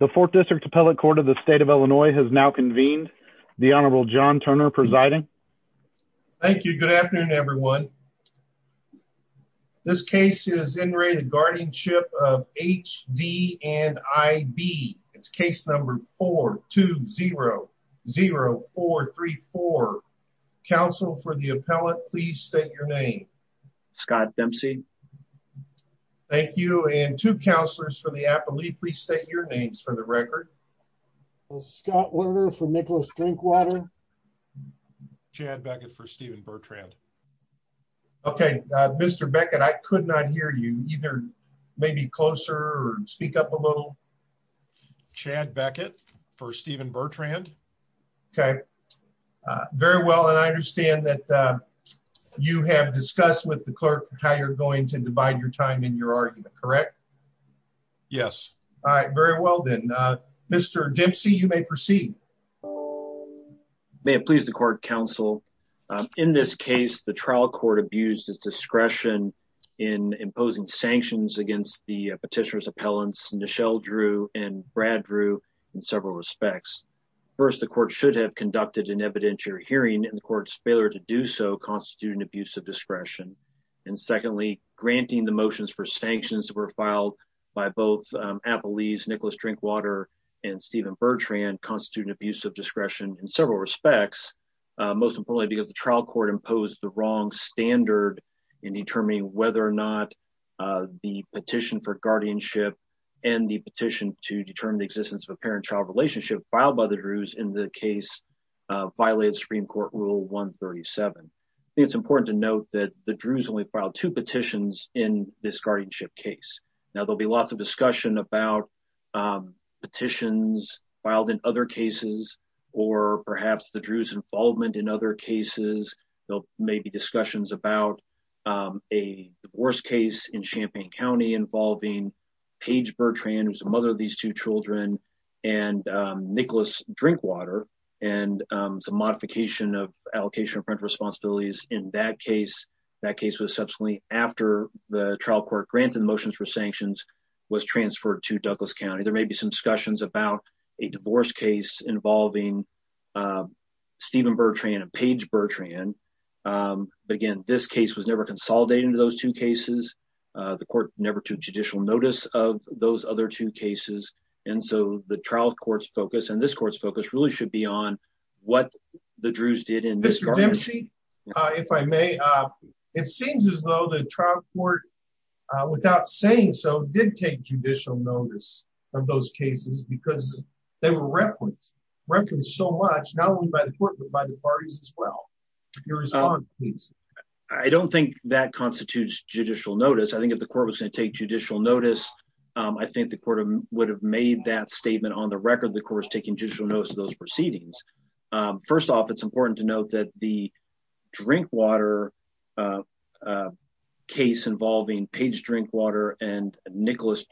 and I. B. It's case number 420-0434. Council for the appellate, please state your name. Scott Dempsey. Thank you. And to counselors for the Appalachian County District. Lee, please state your names for the record. Scott Werner for Nicholas Drinkwater. Chad Beckett for Stephen Bertrand. Okay, Mr. Beckett, I could not hear you either. Maybe closer or speak up a little. Chad Beckett for Stephen Bertrand. Okay, very well. And I understand that you have discussed with the clerk how you're going to divide your time in your argument. Correct? Yes. All right. Very well, then, Mr. Dempsey, you may proceed. May it please the court, counsel. In this case, the trial court abused its discretion in imposing sanctions against the petitioner's appellants. Michelle drew and Brad drew in several respects. First, the court should have conducted an evidentiary hearing in the court's failure to do so constitute an abuse of discretion. And secondly, granting the motions for sanctions were filed by both Appalachian Nicholas Drinkwater and Stephen Bertrand constitute an abuse of discretion in several respects. Most importantly, because the trial court imposed the wrong standard in determining whether or not the petition for guardianship and the petition to determine the existence of a parent child relationship filed by the Druze in the case violated Supreme Court Rule 137. It's important to note that the Druze only filed two petitions in this guardianship case. Now, there'll be lots of discussion about petitions filed in other cases, or perhaps the Druze involvement in other cases. There may be discussions about a divorce case in Champaign County involving Paige Bertrand, who's the mother of these two children, and Nicholas Drinkwater, and some modification of allocation of parental responsibilities in that case. That case was subsequently after the trial court granted motions for sanctions was transferred to Douglas County. There may be some discussions about a divorce case involving Stephen Bertrand and Paige Bertrand. Again, this case was never consolidated into those two cases. The court never took judicial notice of those other two cases. And so the trial court's focus and this court's focus really should be on what the Druze did in this guardianship case. If I may, it seems as though the trial court, without saying so, did take judicial notice of those cases because they were referenced so much, not only by the court, but by the parties as well. I don't think that constitutes judicial notice. I think if the court was going to take judicial notice, I think the court would have made that statement on the record of the court taking judicial notice of those proceedings. First off, it's important to note that the Drinkwater case involving Paige Bertrand and Nicholas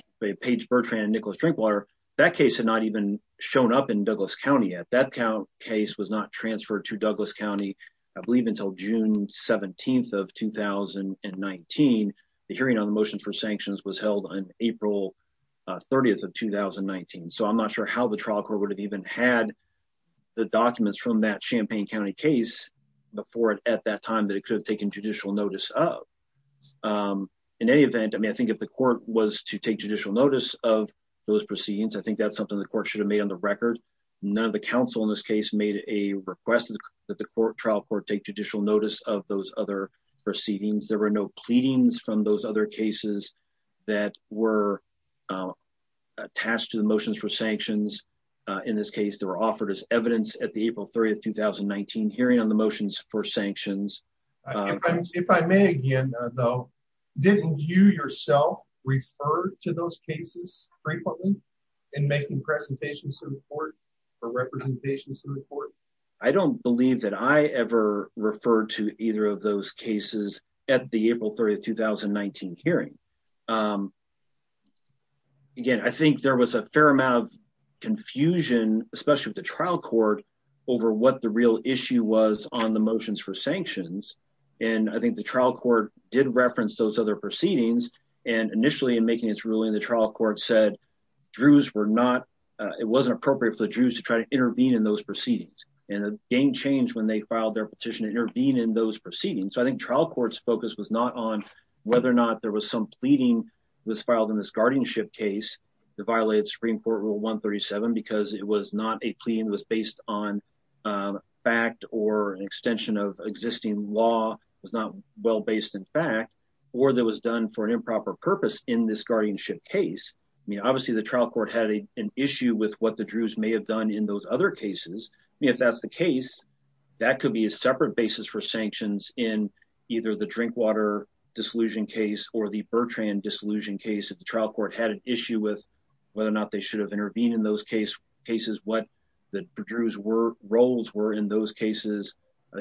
Drinkwater, that case had not even shown up in Douglas County yet. That case was not transferred to Douglas County, I believe, until June 17th of 2019. The hearing on the motions for sanctions was held on April 30th of 2019. So I'm not sure how the trial court would have even had the documents from that Champaign County case before it at that time that it could have taken judicial notice of. In any event, I think if the court was to take judicial notice of those proceedings, I think that's something the court should have made on the record. None of the counsel in this case made a request that the trial court take judicial notice of those other proceedings. There were no pleadings from those other cases that were attached to the motions for sanctions. In this case, they were offered as evidence at the April 30th, 2019 hearing on the motions for sanctions. If I may, again, though, didn't you yourself refer to those cases frequently in making presentations to the court or representations to the court? I don't believe that I ever referred to either of those cases at the April 30th, 2019 hearing. Again, I think there was a fair amount of confusion, especially with the trial court, over what the real issue was on the motions for sanctions. I think the trial court did reference those other proceedings. Initially, in making its ruling, the trial court said it wasn't appropriate for the Jews to try to intervene in those proceedings. It gained change when they filed their petition to intervene in those proceedings. I think trial court's focus was not on whether or not there was some pleading that was filed in this guardianship case that violated Supreme Court Rule 137 because it was not a plea that was based on fact or an extension of existing law, was not well-based in fact, or that was done for an improper purpose in this guardianship case. Obviously, the trial court had an issue with what the Jews may have done in those other cases. If that's the case, that could be a separate basis for sanctions in either the Drinkwater dissolution case or the Bertrand dissolution case. If the trial court had an issue with whether or not they should have intervened in those cases, what the Druze roles were in those cases,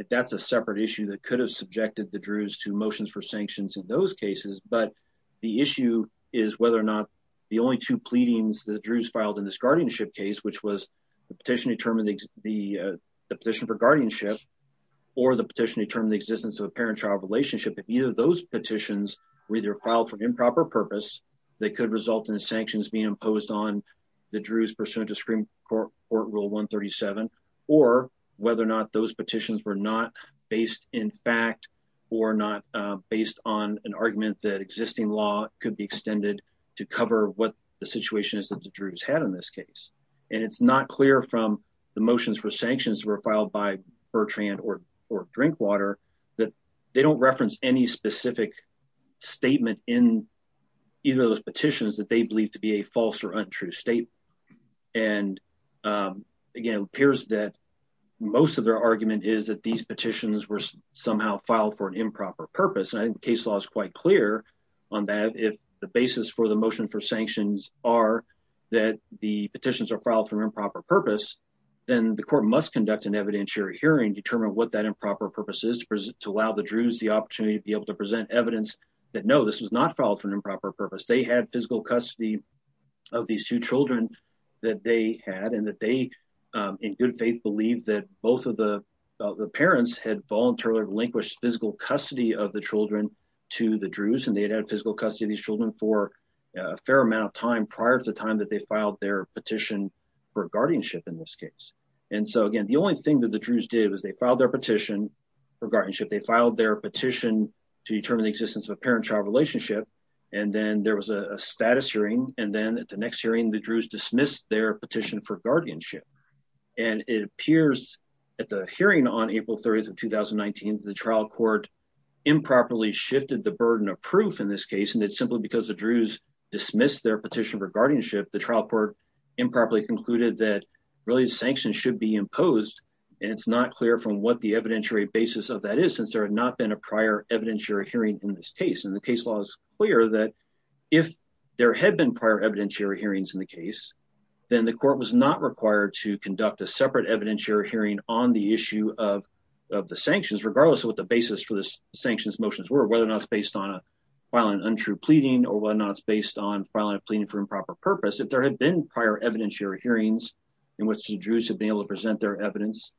that's a separate issue that could have subjected the Druze to motions for sanctions in those cases. But the issue is whether or not the only two pleadings the Druze filed in this guardianship case, which was the petition for guardianship or the petition to determine the existence of a parent-child relationship. If either of those petitions were filed for improper purpose, they could result in sanctions being imposed on the Druze pursuant to Supreme Court Rule 137 or whether or not those petitions were not based in fact or not based on an argument that existing law could be extended to cover what the situation is that the Druze had in this case. And it's not clear from the motions for sanctions that were filed by Bertrand or Drinkwater that they don't reference any specific statement in either of those petitions that they believe to be a false or untrue statement. And, again, it appears that most of their argument is that these petitions were somehow filed for an improper purpose. And I think the case law is quite clear on that. If the basis for the motion for sanctions are that the petitions are filed for improper purpose, then the court must conduct an evidentiary hearing to determine what that improper purpose is to allow the Druze the opportunity to be able to present evidence that, no, this was not filed for an improper purpose. They had physical custody of these two children that they had and that they in good faith believe that both of the parents had voluntarily relinquished physical custody of the children to the Druze and they had physical custody of these children for a fair amount of time prior to the time that they filed their petition for guardianship in this case. And so, again, the only thing that the Druze did was they filed their petition for guardianship. They filed their petition to determine the existence of a parent-child relationship. And then there was a status hearing. And then at the next hearing, the Druze dismissed their petition for guardianship. And it appears at the hearing on April 30th of 2019 that the trial court improperly shifted the burden of proof in this case and that simply because the Druze dismissed their petition for guardianship, the trial court improperly concluded that really sanctions should be imposed. And it's not clear from what the evidentiary basis of that is since there had not been a prior evidentiary hearing in this case. And the case law is clear that if there had been prior evidentiary hearings in the case, then the court was not required to conduct a separate evidentiary hearing on the issue of the sanctions, regardless of what the basis for the sanctions motions were, whether or not it's based on filing an untrue pleading or whether or not it's based on filing a pleading for improper purpose. If there had been prior evidentiary hearings in which the Druze had been able to present their evidence,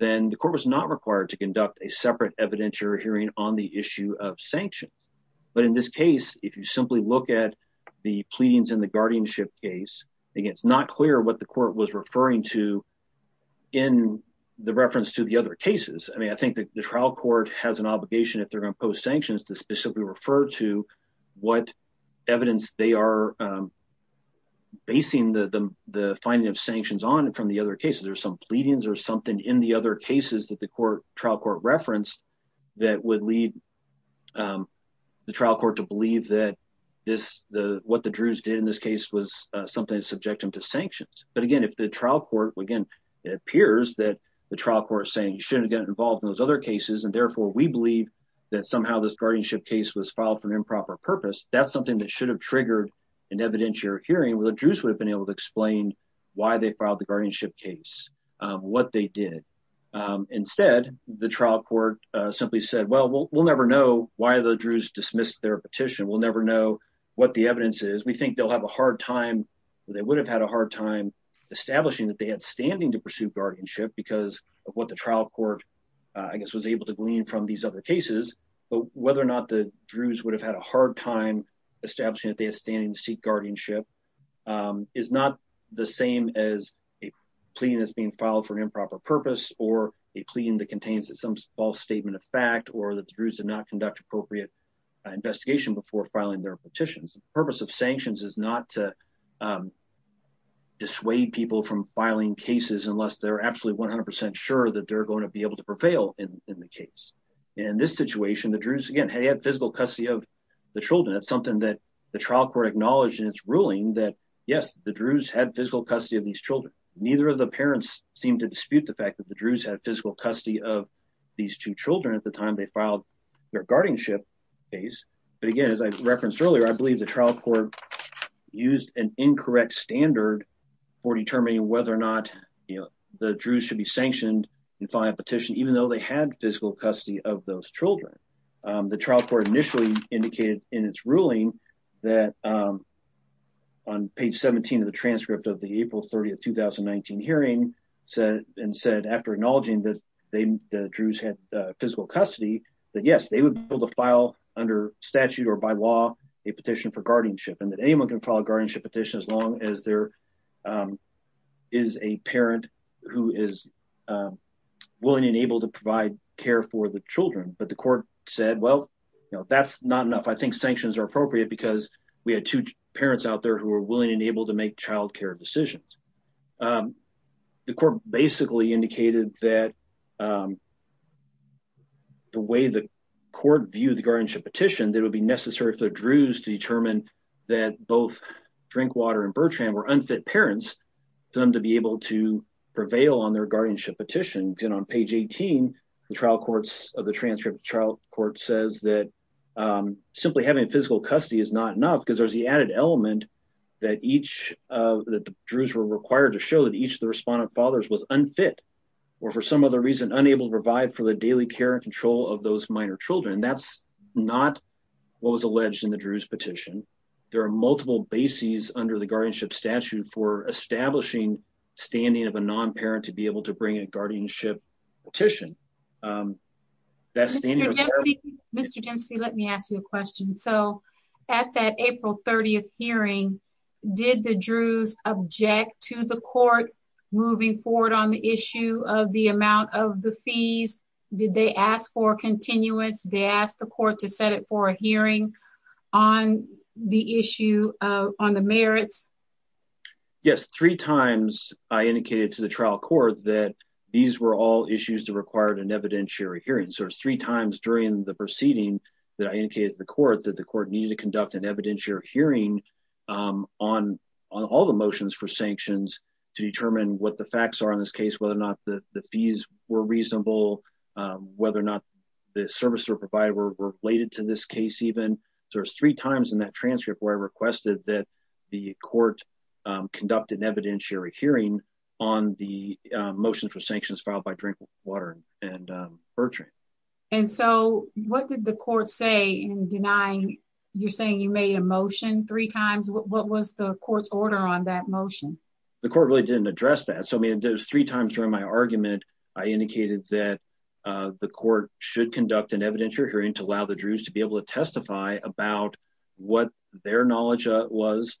then the court was not required to conduct a separate evidentiary hearing on the issue of sanctions. But in this case, if you simply look at the pleadings in the guardianship case, it's not clear what the court was referring to in the reference to the other cases. I mean, I think the trial court has an obligation if they're going to impose sanctions to specifically refer to what evidence they are basing the finding of sanctions on from the other cases. There's some pleadings or something in the other cases that the trial court referenced that would lead the trial court to believe that this, what the Druze did in this case was something to subject them to sanctions. But again, if the trial court, again, it appears that the trial court is saying you shouldn't get involved in those other cases. And therefore, we believe that somehow this guardianship case was filed for an improper purpose. That's something that should have triggered an evidentiary hearing where the Druze would have been able to explain why they filed the guardianship case, what they did. Instead, the trial court simply said, well, we'll never know why the Druze dismissed their petition. We'll never know what the evidence is. We think they'll have a hard time. They would have had a hard time establishing that they had standing to pursue guardianship because of what the trial court, I guess, was able to glean from these other cases. But whether or not the Druze would have had a hard time establishing that they had standing to seek guardianship is not the same as a plea that's being filed for an improper purpose or a plea that contains some false statement of fact or that the Druze did not conduct appropriate investigation before filing their petitions. The purpose of sanctions is not to dissuade people from filing cases unless they're absolutely 100% sure that they're going to be able to prevail in the case. In this situation, the Druze, again, had physical custody of the children. That's something that the trial court acknowledged in its ruling that, yes, the Druze had physical custody of these children. Neither of the parents seemed to dispute the fact that the Druze had physical custody of these two children at the time they filed their guardianship case. But again, as I referenced earlier, I believe the trial court used an incorrect standard for determining whether or not the Druze should be sanctioned in filing a petition, even though they had physical custody of those children. The trial court initially indicated in its ruling that, on page 17 of the transcript of the April 30, 2019 hearing, and said after acknowledging that the Druze had physical custody, that yes, they would be able to file under statute or by law a petition for guardianship and that anyone can file a guardianship petition as long as there is a parent who is willing and able to provide care for the children. But the court said, well, that's not enough. I think sanctions are appropriate because we had two parents out there who were willing and able to make child care decisions. The court basically indicated that the way the court viewed the guardianship petition, that it would be necessary for the Druze to determine that both Drinkwater and Bertrand were unfit parents for them to be able to prevail on their guardianship petition. And then on page 18 of the transcript, the trial court says that simply having physical custody is not enough because there's the added element that the Druze were required to show that each of the respondent fathers was unfit, or for some other reason, unable to provide for the daily care and control of those minor children. And that's not what was alleged in the Druze petition. There are multiple bases under the guardianship statute for establishing standing of a non-parent to be able to bring a guardianship petition. Mr. Dempsey, let me ask you a question. So at that April 30th hearing, did the Druze object to the court moving forward on the issue of the amount of the fees? Did they ask for a continuous, they asked the court to set it for a hearing on the issue on the merits? Yes, three times I indicated to the trial court that these were all issues that required an evidentiary hearing. So there's three times during the proceeding that I indicated to the court that the court needed to conduct an evidentiary hearing on all the motions for sanctions to determine what the facts are in this case, whether or not the fees were reasonable, whether or not the services were provided were related to this case even. So there's three times in that transcript where I requested that the court conduct an evidentiary hearing on the motion for sanctions filed by Drinkwater and Bertrand. And so what did the court say in denying, you're saying you made a motion three times? What was the court's order on that motion? The court really didn't address that. So I mean, there's three times during my argument, I indicated that the court should conduct an evidentiary hearing to allow the Druze to be able to testify about what their knowledge was,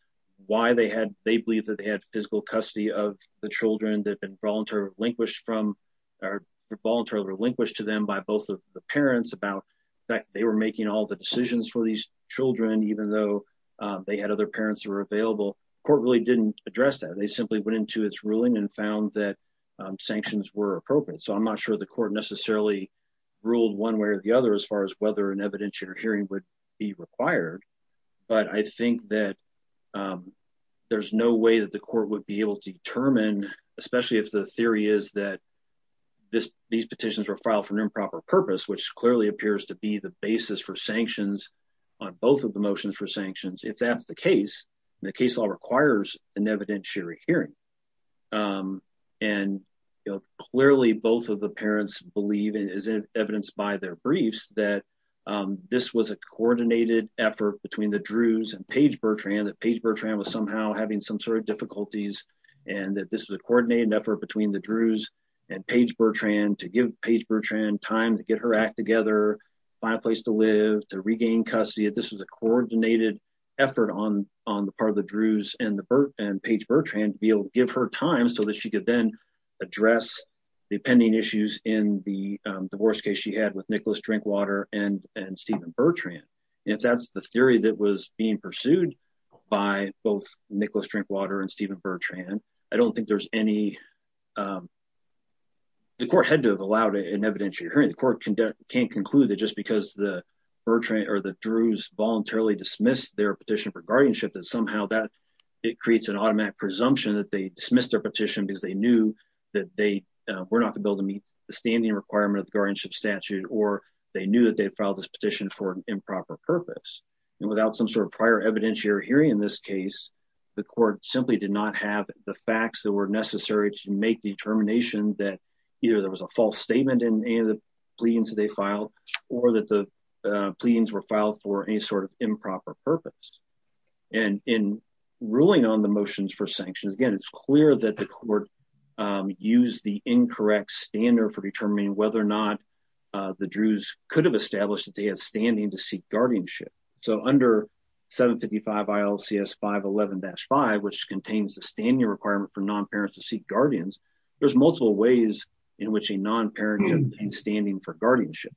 why they had, they believe that they had physical custody of the children that had been voluntarily relinquished from, or voluntarily relinquished to them by both of the parents about the fact that they were making all the decisions for these children, even though they had other parents who were available. The court really didn't address that. They simply went into its ruling and found that sanctions were appropriate. So I'm not sure the court necessarily ruled one way or the other as far as whether an evidentiary hearing would be required. But I think that there's no way that the court would be able to determine, especially if the theory is that these petitions were filed for an improper purpose, which clearly appears to be the basis for sanctions on both of the motions for sanctions. If that's the case, the case law requires an evidentiary hearing. And clearly, both of the parents believe, as evidenced by their briefs, that this was a coordinated effort between the Druze and Paige Bertrand, that Paige Bertrand was somehow having some sort of difficulties, and that this was a coordinated effort between the Druze and Paige Bertrand to give Paige Bertrand time to get her act together, find a place to live, to regain custody. This was a coordinated effort on the part of the Druze and Paige Bertrand to be able to give her time so that she could then address the pending issues in the divorce case she had with Nicholas Drinkwater and Stephen Bertrand. If that's the theory that was being pursued by both Nicholas Drinkwater and Stephen Bertrand, I don't think there's any... the court had to have allowed an evidentiary hearing. The court can't conclude that just because the Bertrand or the Druze voluntarily dismissed their petition for guardianship that somehow that it creates an automatic presumption that they dismissed their petition because they knew that they were not going to be able to meet the standing requirement of the guardianship statute, or they knew that they filed this petition for an improper purpose. And without some sort of prior evidentiary hearing in this case, the court simply did not have the facts that were necessary to make the determination that either there was a false statement in any of the pleadings that they filed, or that the pleadings were filed for any sort of improper purpose. And in ruling on the motions for sanctions, again, it's clear that the court used the incorrect standard for determining whether or not the Druze could have established that they had standing to seek guardianship. So under 755 ILCS 511-5, which contains the standing requirement for non-parents to seek guardians, there's multiple ways in which a non-parent has been standing for guardianship.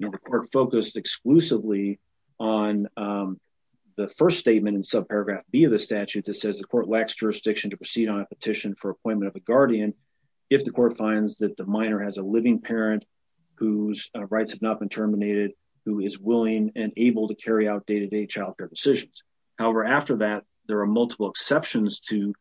The court focused exclusively on the first statement in subparagraph B of the statute that says the court lacks jurisdiction to proceed on a petition for appointment of a guardian if the court finds that the minor has a living parent whose rights have not been terminated, who is willing and able to carry out day-to-day child care decisions. However, after that, there are multiple exceptions to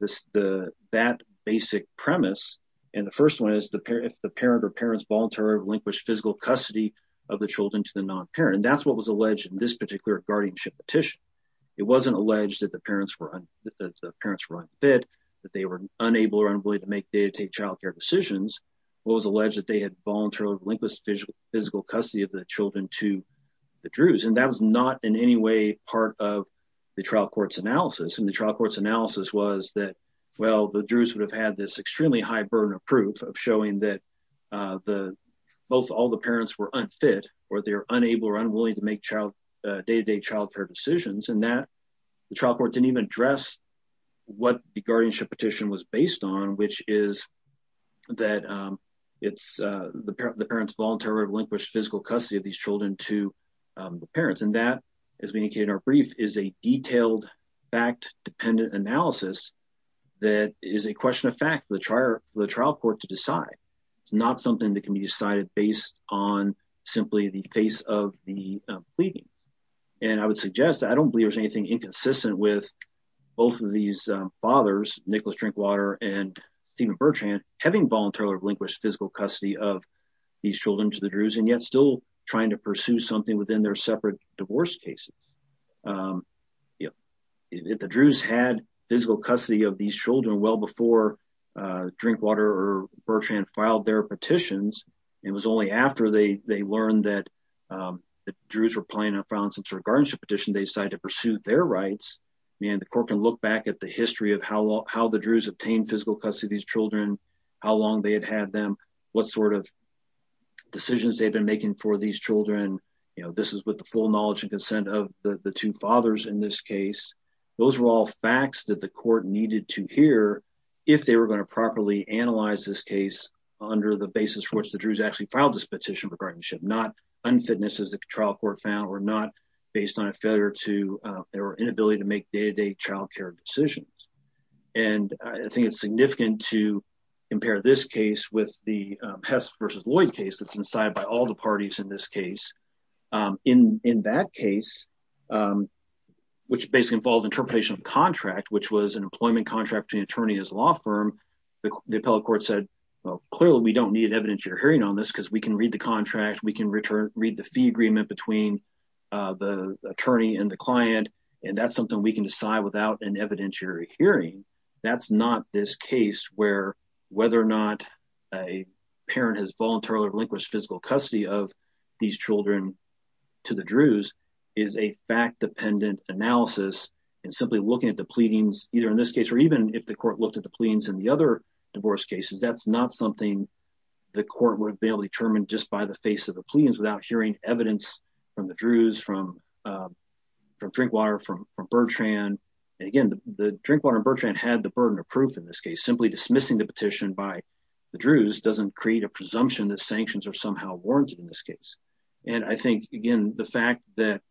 that basic premise. And the first one is if the parent or parents voluntarily relinquished physical custody of the children to the non-parent. And that's what was alleged in this particular guardianship petition. It wasn't alleged that the parents were unfit, that they were unable or unwilling to make day-to-day child care decisions. It was alleged that they had voluntarily relinquished physical custody of the children to the Druze. And that was not in any way part of the trial court's analysis. And the trial court's analysis was that, well, the Druze would have had this extremely high burden of proof of showing that both all the parents were unfit, or they're unable or unwilling to make day-to-day child care decisions, and that the trial court didn't even address what the guardianship petition was based on, which is that the parents voluntarily relinquished physical custody of these children to the parents. And that, as we indicated in our brief, is a detailed, fact-dependent analysis that is a question of fact for the trial court to decide. It's not something that can be decided based on simply the face of the pleading. And I would suggest that I don't believe there's anything inconsistent with both of these fathers, Nicholas Drinkwater and Stephen Bertrand, having voluntarily relinquished physical custody of these children to the Druze, and yet still trying to pursue something within their separate divorce cases. If the Druze had physical custody of these children well before Drinkwater or Bertrand filed their petitions, it was only after they learned that the Druze were planning on filing some sort of guardianship petition, they decided to pursue their rights. And the court can look back at the history of how the Druze obtained physical custody of these children, how long they had had them, what sort of decisions they've been making for these children. You know, this is with the full knowledge and consent of the two fathers in this case. Those were all facts that the court needed to hear if they were going to properly analyze this case under the basis for which the Druze actually filed this petition for guardianship. Not unfitness, as the trial court found, or not based on a failure to their inability to make day-to-day childcare decisions. And I think it's significant to compare this case with the Hess v. Lloyd case that's decided by all the parties in this case. In that case, which basically involves interpretation of contract, which was an employment contract between attorney and his law firm, the appellate court said, well, clearly we don't need evidentiary hearing on this because we can read the contract, we can read the fee agreement between the attorney and the client, and that's something we can decide without an evidentiary hearing. That's not this case where whether or not a parent has voluntarily relinquished physical custody of these children to the Druze is a fact-dependent analysis. And simply looking at the pleadings, either in this case or even if the court looked at the pleadings in the other divorce cases, that's not something the court would have been able to determine just by the face of the pleadings without hearing evidence from the Druze, from Drinkwater, from Bertrand. And again, the Drinkwater and Bertrand had the burden of proof in this case. Simply dismissing the petition by the Druze doesn't create a presumption that sanctions are somehow warranted in this case. And I think, again, the fact that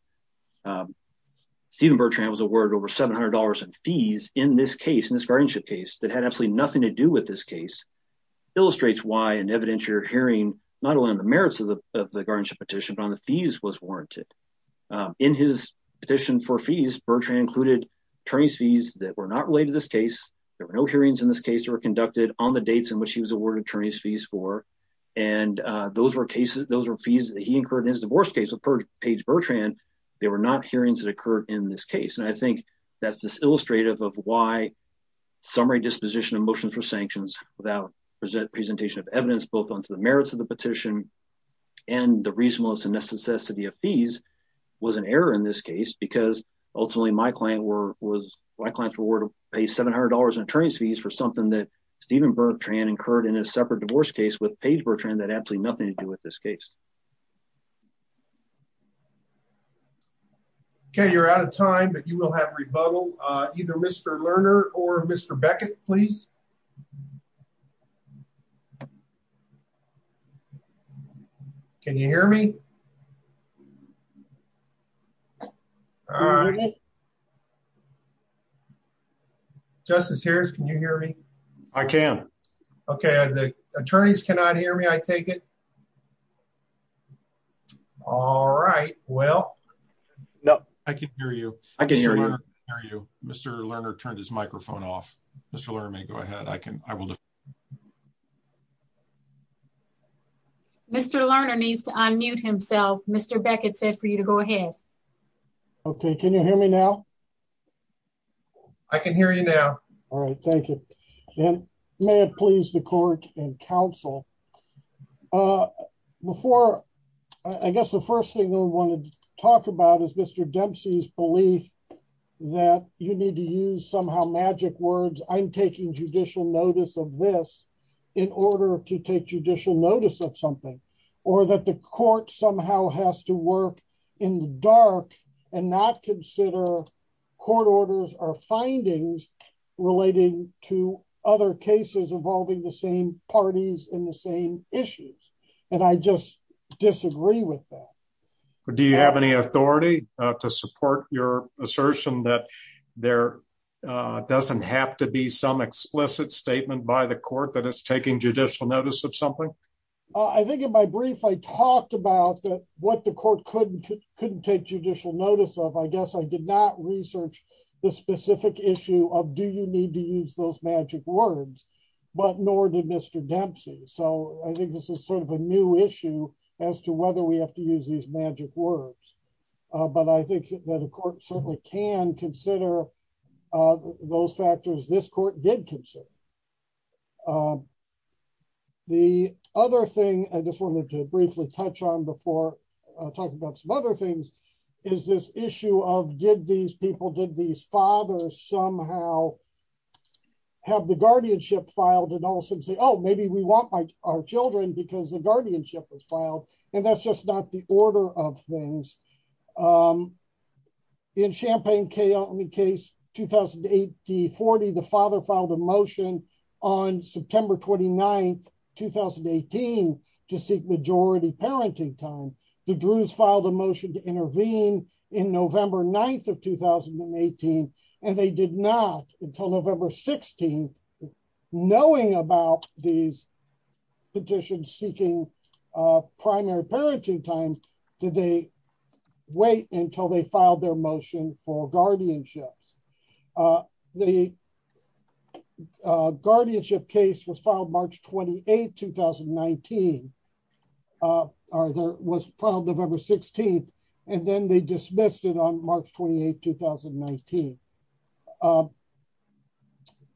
Stephen Bertrand was awarded over $700 in fees in this case, in this guardianship case, that had absolutely nothing to do with this case, illustrates why an evidentiary hearing, not only on the merits of the guardianship petition, but on the fees was warranted. In his petition for fees, Bertrand included attorney's fees that were not related to this case. There were no hearings in this case that were conducted on the dates in which he was awarded attorney's fees for. And those were fees that he incurred in his divorce case with Paige Bertrand. There were not hearings that occurred in this case. And I think that's just illustrative of why summary disposition of motions for sanctions without presentation of evidence, both onto the merits of the petition and the reasonableness and necessity of fees, was an error in this case, because ultimately my client's reward was to pay $700 in attorney's fees for something that Stephen Bertrand incurred in a separate divorce case with Paige Bertrand that had absolutely nothing to do with this case. Okay, you're out of time, but you will have rebuttal. Either Mr. Lerner or Mr. Beckett, please. Can you hear me? All right. Justice Harris, can you hear me? I can. Okay. The attorneys cannot hear me. Can I take it? All right, well, no, I can hear you. I can hear you, Mr. Lerner turned his microphone off. Mr. Lerner may go ahead I can, I will. Mr. Lerner needs to unmute himself, Mr. Beckett said for you to go ahead. Okay, can you hear me now. I can hear you now. All right, thank you. And may it please the court and counsel. Before I guess the first thing I wanted to talk about is Mr Dempsey's belief that you need to use somehow magic words I'm taking judicial notice of this. In order to take judicial notice of something, or that the court somehow has to work in the dark, and not consider court orders or findings relating to other cases involving the same parties in the same issues. And I just disagree with that. Do you have any authority to support your assertion that there doesn't have to be some explicit statement by the court that it's taking judicial notice of something. I think in my brief I talked about that, what the court couldn't couldn't take judicial notice of I guess I did not research, the specific issue of do you need to use those magic words, but nor did Mr Dempsey so I think this is sort of a new issue as to whether we have to use these magic words. But I think that of course certainly can consider those factors this court did consider the other thing I just wanted to briefly touch on before talking about some other things is this issue of did these people did these fathers somehow have the guardianship filed and also say oh maybe we want our children because the guardianship was filed, and that's just not the order of things. In champagne kale me case, 2008, the 40 the father filed a motion on September 29 2018 to seek majority parenting time, the druids filed a motion to intervene in November 9 of 2018, and they did not until November 16, knowing about these petitions seeking primary parenting time today. Wait until they filed their motion for guardianship. The guardianship case was filed March 28 2019 are there was probably November 16, and then they dismissed it on March 28 2019.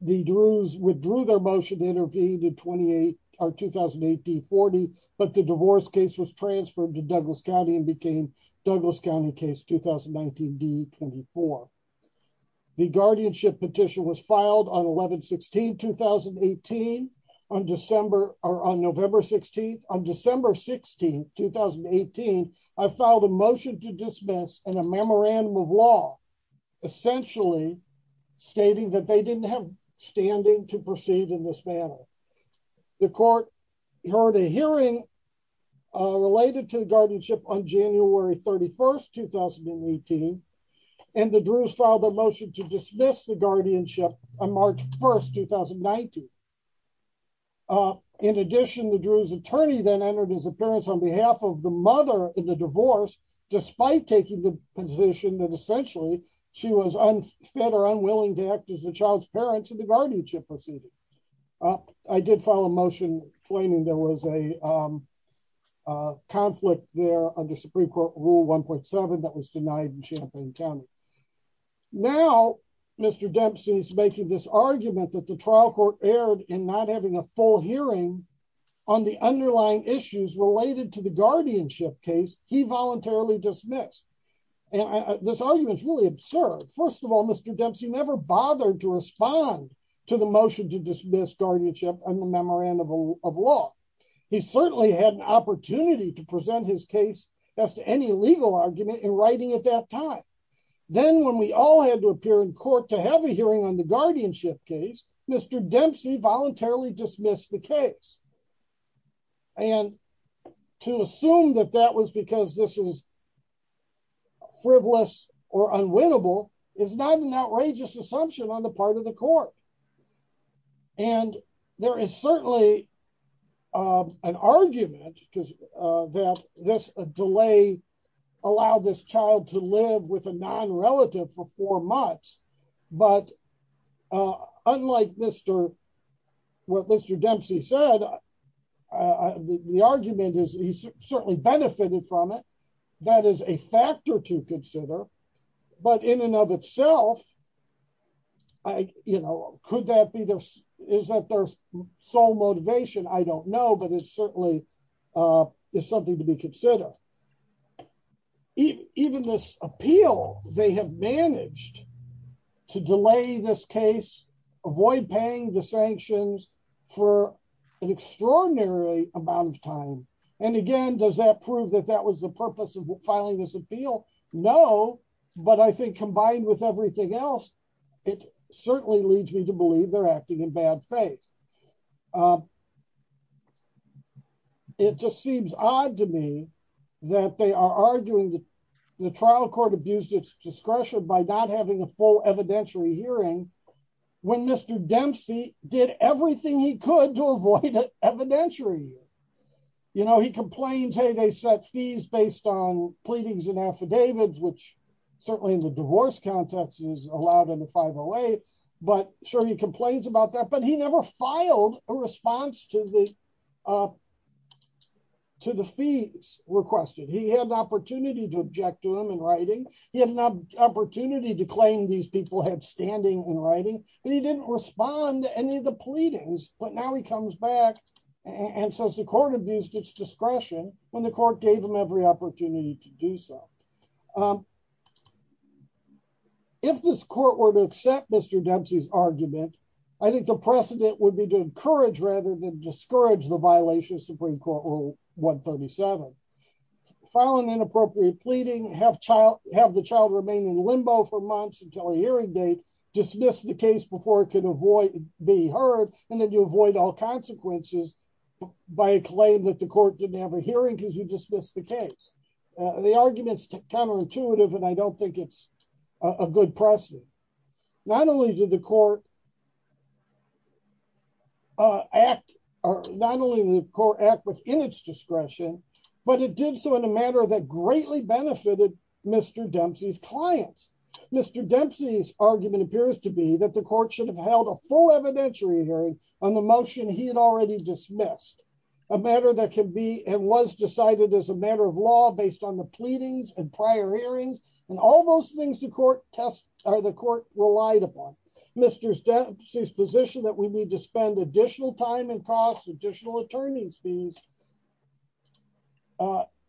The druids withdrew their motion intervene to 28 or 2018 40, but the divorce case was transferred to Douglas County and became Douglas County case 2019 D 24, the guardianship petition was filed on 1116 2018 on December, or on November 16 on December 16 2018, I filed a motion to dismiss and a memorandum of law, essentially, stating that they didn't have standing to proceed in this manner. The court heard a hearing related to guardianship on January 31 2018. And the druids filed a motion to dismiss the guardianship on March 1 2019. In addition, the druids attorney then entered his appearance on behalf of the mother in the divorce, despite taking the position that essentially, she was unfettered unwilling to act as a child's parents and the guardianship proceeding. I did file a motion, claiming there was a conflict there on the Supreme Court rule 1.7 that was denied in Champaign County. Now, Mr. Dempsey is making this argument that the trial court aired in not having a full hearing on the underlying issues related to the guardianship case, he voluntarily dismissed. And this argument is really absurd. First of all, Mr. Dempsey never bothered to respond to the motion to dismiss guardianship and the memorandum of law. He certainly had an opportunity to present his case as to any legal argument in writing at that time. Then when we all had to appear in court to have a hearing on the guardianship case, Mr Dempsey voluntarily dismissed the case. And to assume that that was because this is frivolous or unwinnable is not an outrageous assumption on the part of the court. And there is certainly an argument that this delay allowed this child to live with a non-relative for four months. But, unlike what Mr. Dempsey said, the argument is he certainly benefited from it. That is a factor to consider. But in and of itself, is that their sole motivation? I don't know, but it certainly is something to be considered. Even this appeal, they have managed to delay this case, avoid paying the sanctions for an extraordinary amount of time. And again, does that prove that that was the purpose of filing this appeal? No. But I think combined with everything else, it certainly leads me to believe they're acting in bad faith. It just seems odd to me that they are arguing that the trial court abused its discretion by not having a full evidentiary hearing when Mr. Dempsey did everything he could to avoid evidentiary. You know, he complains, hey, they set fees based on pleadings and affidavits, which certainly in the divorce context is allowed in the 508. But sure, he complains about that, but he never filed a response to the fees requested. He had the opportunity to object to them in writing. He had an opportunity to claim these people had standing in writing, but he didn't respond to any of the pleadings. But now he comes back and says the court abused its discretion when the court gave him every opportunity to do so. If this court were to accept Mr. Dempsey's argument, I think the precedent would be to encourage rather than discourage the violation of Supreme Court Rule 137. File an inappropriate pleading, have the child remain in limbo for months until a hearing date, dismiss the case before it can be heard, and then you avoid all consequences by a claim that the court didn't have a hearing because you dismissed the case. The argument is counterintuitive and I don't think it's a good precedent. Not only did the court act within its discretion, but it did so in a manner that greatly benefited Mr. Dempsey's clients. Mr. Dempsey's argument appears to be that the court should have held a full evidentiary hearing on the motion he had already dismissed. A matter that can be and was decided as a matter of law based on the pleadings and prior hearings and all those things the court relied upon. Mr. Dempsey's position that we need to spend additional time and cost additional attorneys fees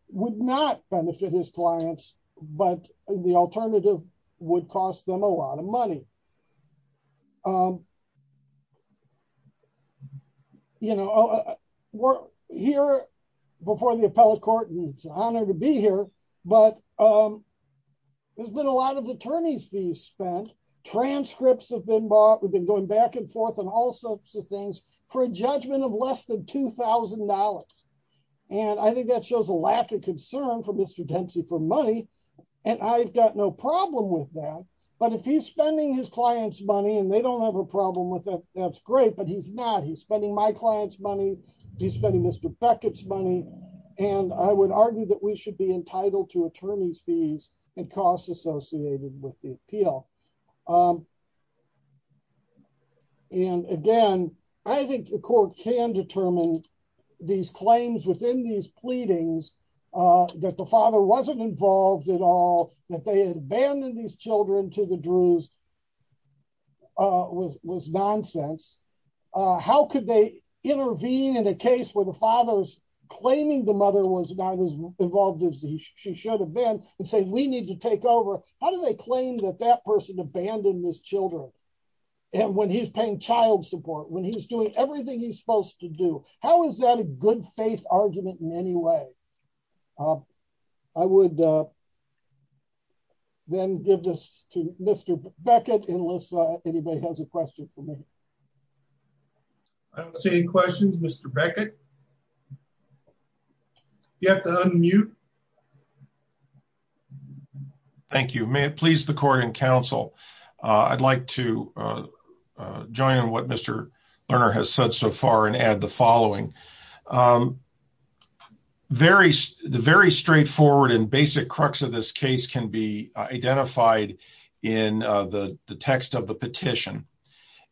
would not benefit his clients, but the alternative would cost them a lot of money. We're here before the appellate court and it's an honor to be here, but there's been a lot of attorneys fees spent, transcripts have been bought, we've been going back and forth and all sorts of things for a judgment of less than $2,000. And I think that shows a lack of concern for Mr. Dempsey for money. And I've got no problem with that. But if he's spending his clients money and they don't have a problem with that, that's great, but he's not he's spending my clients money. He's spending Mr. Beckett's money. And I would argue that we should be entitled to attorneys fees and costs associated with the appeal. And again, I think the court can determine these claims within these pleadings that the father wasn't involved at all that they abandoned these children to the druze was was nonsense. How could they intervene in a case where the father's claiming the mother was not as involved as she should have been and say we need to take over. How do they claim that that person abandoned his children. And when he's paying child support when he's doing everything he's supposed to do. How is that a good faith argument in any way. I would Then give this to Mr. Beckett unless anybody has a question for me. I don't see any questions. Mr. Beckett You have to unmute Thank you. May it please the court and counsel. I'd like to join on what Mr. Lerner has said so far and add the following Very, very straightforward and basic crux of this case can be identified in the text of the petition.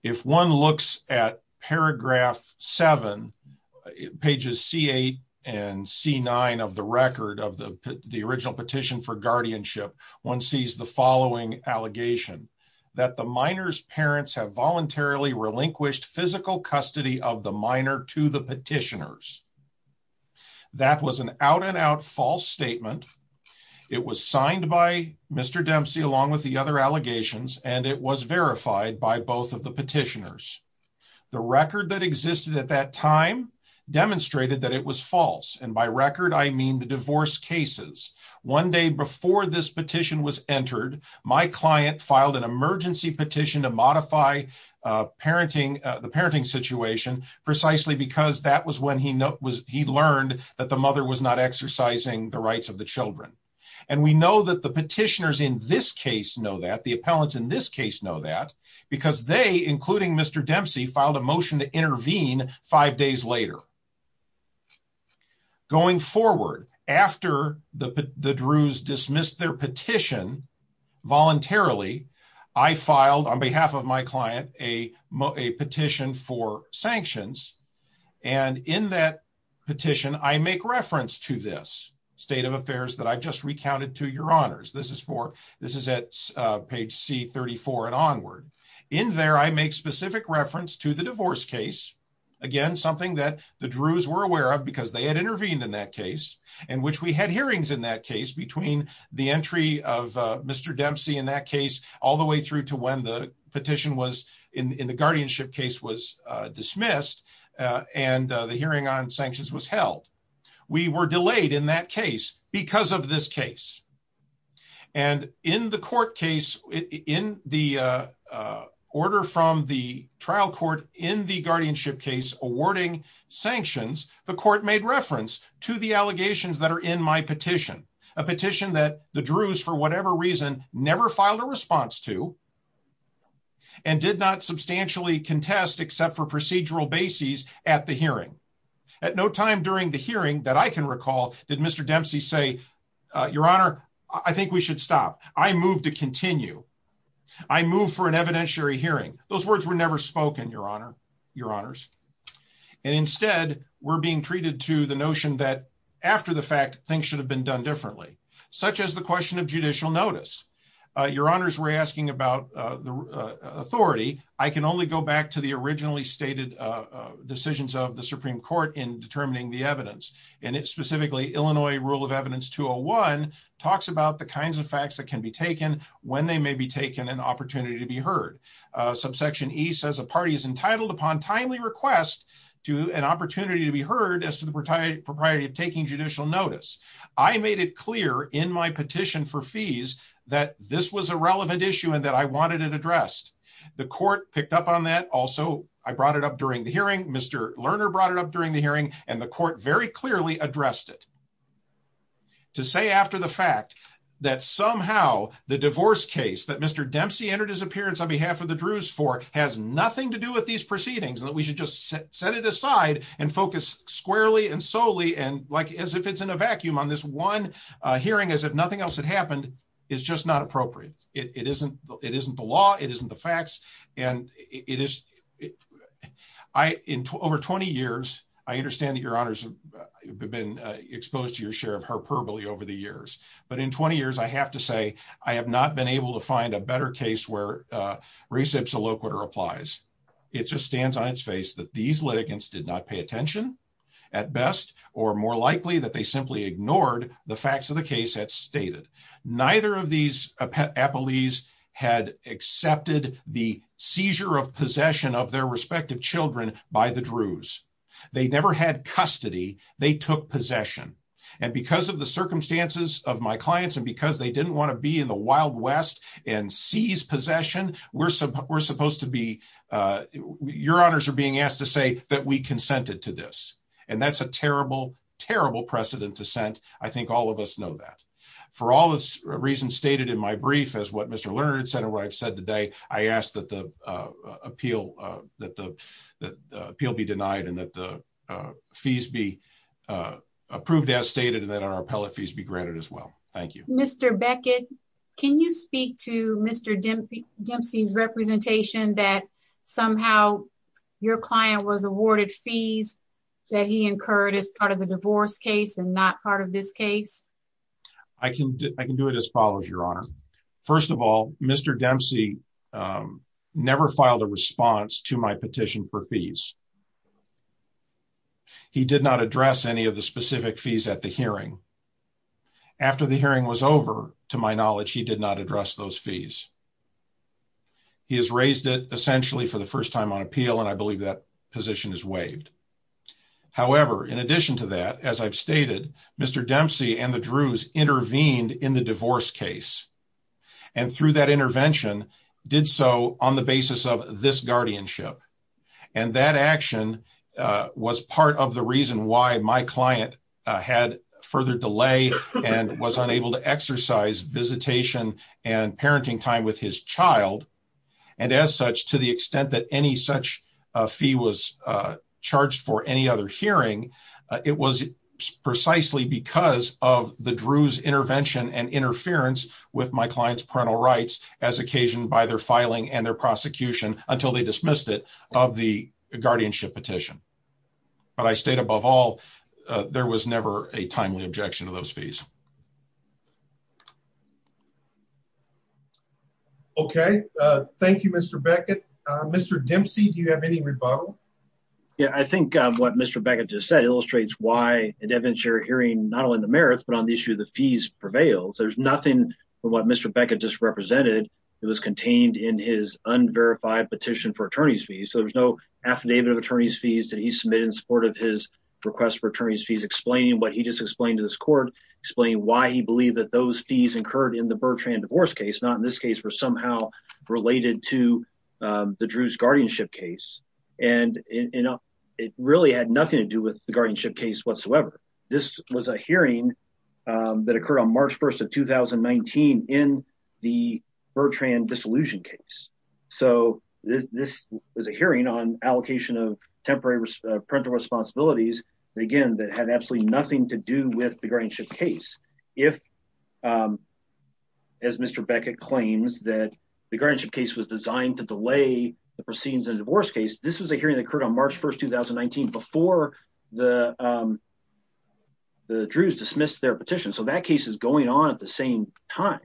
If one looks at paragraph seven Pages see a and see nine of the record of the, the original petition for guardianship. One sees the following allegation that the miners parents have voluntarily relinquished physical custody of the minor to the petitioners. That was an out and out false statement. It was signed by Mr. Dempsey, along with the other allegations and it was verified by both of the petitioners. The record that existed at that time demonstrated that it was false. And by record, I mean the divorce cases. One day before this petition was entered my client filed an emergency petition to modify Parenting the parenting situation, precisely because that was when he was he learned that the mother was not exercising the rights of the children. And we know that the petitioners in this case know that the appellants in this case know that because they including Mr. Dempsey filed a motion to intervene. Five days later. Going forward after the the druze dismissed their petition voluntarily I filed on behalf of my client, a petition for sanctions. And in that petition I make reference to this state of affairs that I just recounted to your honors. This is for this is at page C 34 and onward in there. I make specific reference to the divorce case. Again, something that the druze were aware of because they had intervened in that case in which we had hearings in that case between the entry of Mr. Dempsey in that case, all the way through to when the petition was in the guardianship case was dismissed. And the hearing on sanctions was held. We were delayed in that case because of this case. And in the court case in the order from the trial court in the guardianship case awarding sanctions, the court made reference to the allegations that are in my petition, a petition that the druze for whatever reason, never filed a response to. And did not substantially contest except for procedural basis at the hearing. At no time during the hearing that I can recall, did Mr. Dempsey say, your honor, I think we should stop. I move to continue. I move for an evidentiary hearing those words were never spoken, your honor, your honors. And instead, we're being treated to the notion that after the fact, things should have been done differently, such as the question of judicial notice, your honors were asking about the authority. I can only go back to the originally stated decisions of the Supreme Court in determining the evidence, and it specifically Illinois rule of evidence to a one talks about the kinds of facts that can be taken when they may be taken an opportunity to be heard. Subsection he says a party is entitled upon timely request to an opportunity to be heard as to the proprietary of taking judicial notice. I made it clear in my petition for fees that this was a relevant issue and that I wanted it addressed. The court picked up on that. Also, I brought it up during the hearing, Mr. Lerner brought it up during the hearing, and the court very clearly addressed it. To say after the fact that somehow the divorce case that Mr Dempsey entered his appearance on behalf of the Druze for has nothing to do with these proceedings and that we should just set it aside and focus squarely and solely and like as if it's in a vacuum on this one hearing as if nothing else had happened is just not appropriate. It isn't, it isn't the law, it isn't the facts, and it is. I in over 20 years, I understand that your honors have been exposed to your share of her probably over the years, but in 20 years I have to say, I have not been able to find a better case where reception look what applies. It's just stands on its face that these litigants did not pay attention at best, or more likely that they simply ignored the facts of the case that stated, neither of these police had accepted the seizure of possession of their respective children by the Druze. They never had custody, they took possession. And because of the circumstances of my clients and because they didn't want to be in the Wild West and seize possession, we're supposed to be your honors are being asked to say that we consented to this. And that's a terrible, terrible precedent to send. I think all of us know that, for all the reasons stated in my brief as what Mr learned center where I've said today, I asked that the appeal that the appeal be denied and that the fees be approved as stated that our appellate fees be granted as well. Thank you, Mr Beckett. Can you speak to Mr Dempsey Dempsey's representation that somehow, your client was awarded fees that he incurred as part of the divorce case and not part of this case. I can, I can do it as follows your honor. First of all, Mr Dempsey never filed a response to my petition for fees. He did not address any of the specific fees at the hearing. After the hearing was over, to my knowledge, he did not address those fees. He has raised it essentially for the first time on appeal and I believe that position is waived. However, in addition to that, as I've stated, Mr Dempsey and the Druze intervened in the divorce case. And through that intervention did so on the basis of this guardianship and that action was part of the reason why my client had further delay and was unable to exercise visitation and parenting time with his child. And as such, to the extent that any such fee was charged for any other hearing. It was precisely because of the Druze intervention and interference with my client's parental rights as occasioned by their filing and their prosecution until they dismissed it of the guardianship petition. But I state above all, there was never a timely objection to those fees. Okay. Thank you, Mr. Beckett. Mr. Dempsey, do you have any rebuttal? Yeah, I think what Mr. Beckett just said illustrates why an evidentiary hearing, not only the merits, but on the issue of the fees prevails. There's nothing from what Mr. Beckett just represented. It was contained in his unverified petition for attorney's fees. So there's no affidavit of attorney's fees that he submitted in support of his request for attorney's fees explaining what he just explained to this court, explain why he believed that those fees incurred in the Bertrand divorce case not in this case for somehow related to the Druze guardianship case, and it really had nothing to do with the guardianship case whatsoever. This was a hearing that occurred on March 1 of 2019 in the Bertrand dissolution case. So this is a hearing on allocation of temporary parental responsibilities. Again, that had absolutely nothing to do with the guardianship case. If, as Mr. Beckett claims that the guardianship case was designed to delay the proceedings and divorce case. This was a hearing that occurred on March 1 2019 before the Druze dismissed their petition. So that case is going on at the same time.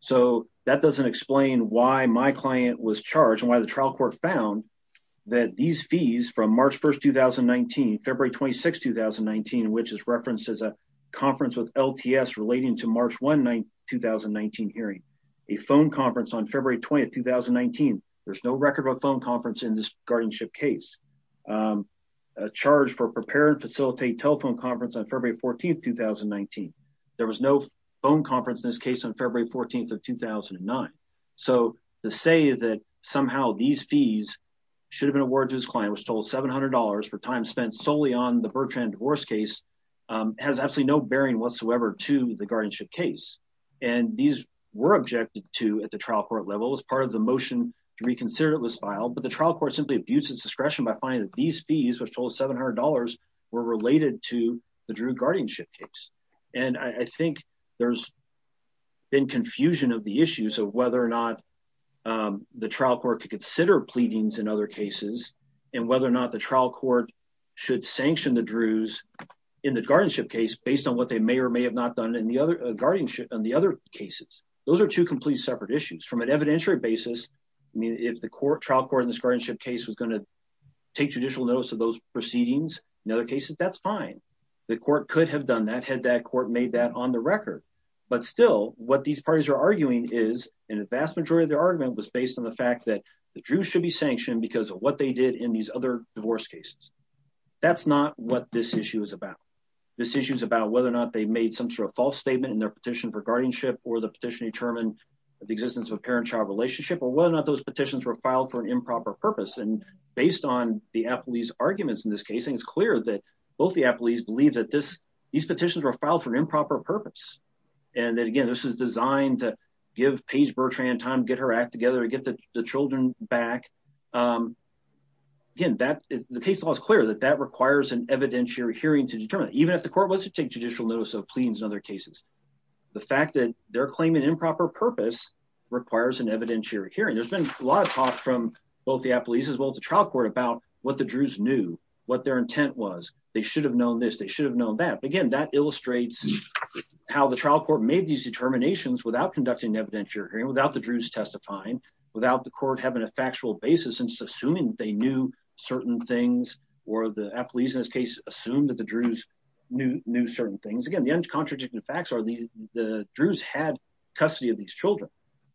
So, that doesn't explain why my client was charged and why the trial court found that these fees from March 1 2019 February 26 2019 which is referenced as a conference with LTS relating to March one night 2019 hearing a phone conference on February 20 2019. There's no record of a phone conference in this guardianship case. Charge for prepare and facilitate telephone conference on February 14 2019. There was no phone conference in this case on February 14 of 2009. So, the say that somehow these fees should have been a word to his client was told $700 for time spent solely on the Bertrand divorce case has absolutely no bearing whatsoever to the guardianship case. And these were objected to at the trial court level as part of the motion to reconsider it was filed but the trial court simply abuses discretion by finding that these fees which total $700 were related to the Drew guardianship case. And I think there's been confusion of the issues of whether or not the trial court to consider pleadings and other cases, and whether or not the trial court should sanction the Druze in the guardianship case based on what they may or may have not done in the other guardianship cases. Those are two complete separate issues from an evidentiary basis. I mean if the court trial court in this guardianship case was going to take judicial notice of those proceedings. In other cases, that's fine. The court could have done that had that court made that on the record. But still, what these parties are arguing is in the vast majority of their argument was based on the fact that the Drew should be sanctioned because of what they did in these other divorce cases. That's not what this issue is about. This issue is about whether or not they made some sort of false statement in their petition for guardianship or the petition determined the existence of a parent child relationship or whether or not those petitions were filed for an improper purpose and based on the Applebee's arguments in this case and it's clear that both the Applebee's believe that this, these petitions were filed for improper purpose. And then again this is designed to give Paige Bertrand time to get her act together and get the children back. Again, that is the case law is clear that that requires an evidentiary hearing to determine even if the court was to take judicial notice of pleadings in other cases, the fact that they're claiming improper purpose requires an evidentiary hearing there's been a lot of talk from both the Applebee's as well as the trial court about what the Drew's knew what their intent was, they should have known this they should have known that again that illustrates how the trial court made these determinations without conducting evidentiary hearing without the Drew's testifying without the court having a factual basis and assuming they knew certain things, or the Applebee's in this case, assume that the Drew's knew certain things again the uncontradictory facts are the, the Drew's had custody of these children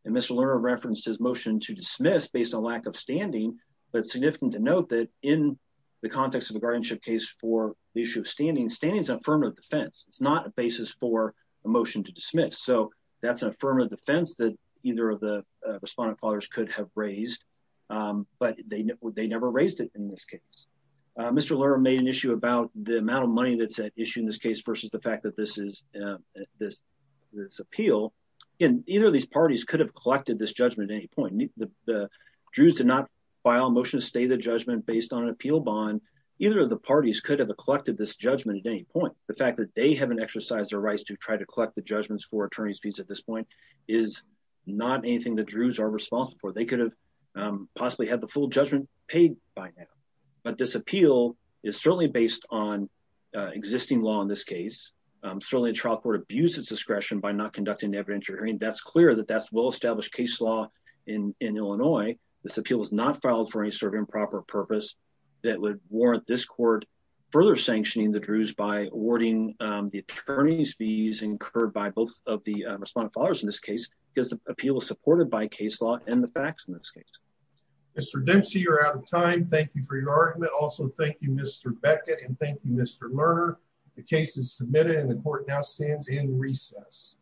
and Mr learner referenced his motion to dismiss based on lack of standing, but significant to note that in the context of the guardianship case for the issue of standing standings affirmative defense, it's not a basis for a motion to dismiss so that's an affirmative defense that either of the respondent fathers could have raised. But they, they never raised it in this case, Mr learner made an issue about the amount of money that's an issue in this case versus the fact that this is this. This appeal in either of these parties could have collected this judgment at any point the Jews did not file motion to stay the judgment based on appeal bond, either of the parties could have collected this judgment at any point, the fact that they haven't exercised their rights to try to collect the judgments for attorneys fees at this point is not anything that Drew's are responsible for they could have possibly had the full judgment paid by now, but this appeal is certainly based on existing law in this case, certainly a trial court abuses discretion by not conducting evidentiary hearing that's clear that that's well established case law in Illinois. This appeal is not filed for any sort of improper purpose that would warrant this court further sanctioning the Drew's by awarding the attorneys fees incurred by both of the respondent fathers in this case, because the appeal is supported by the case is submitted in the court now stands in recess.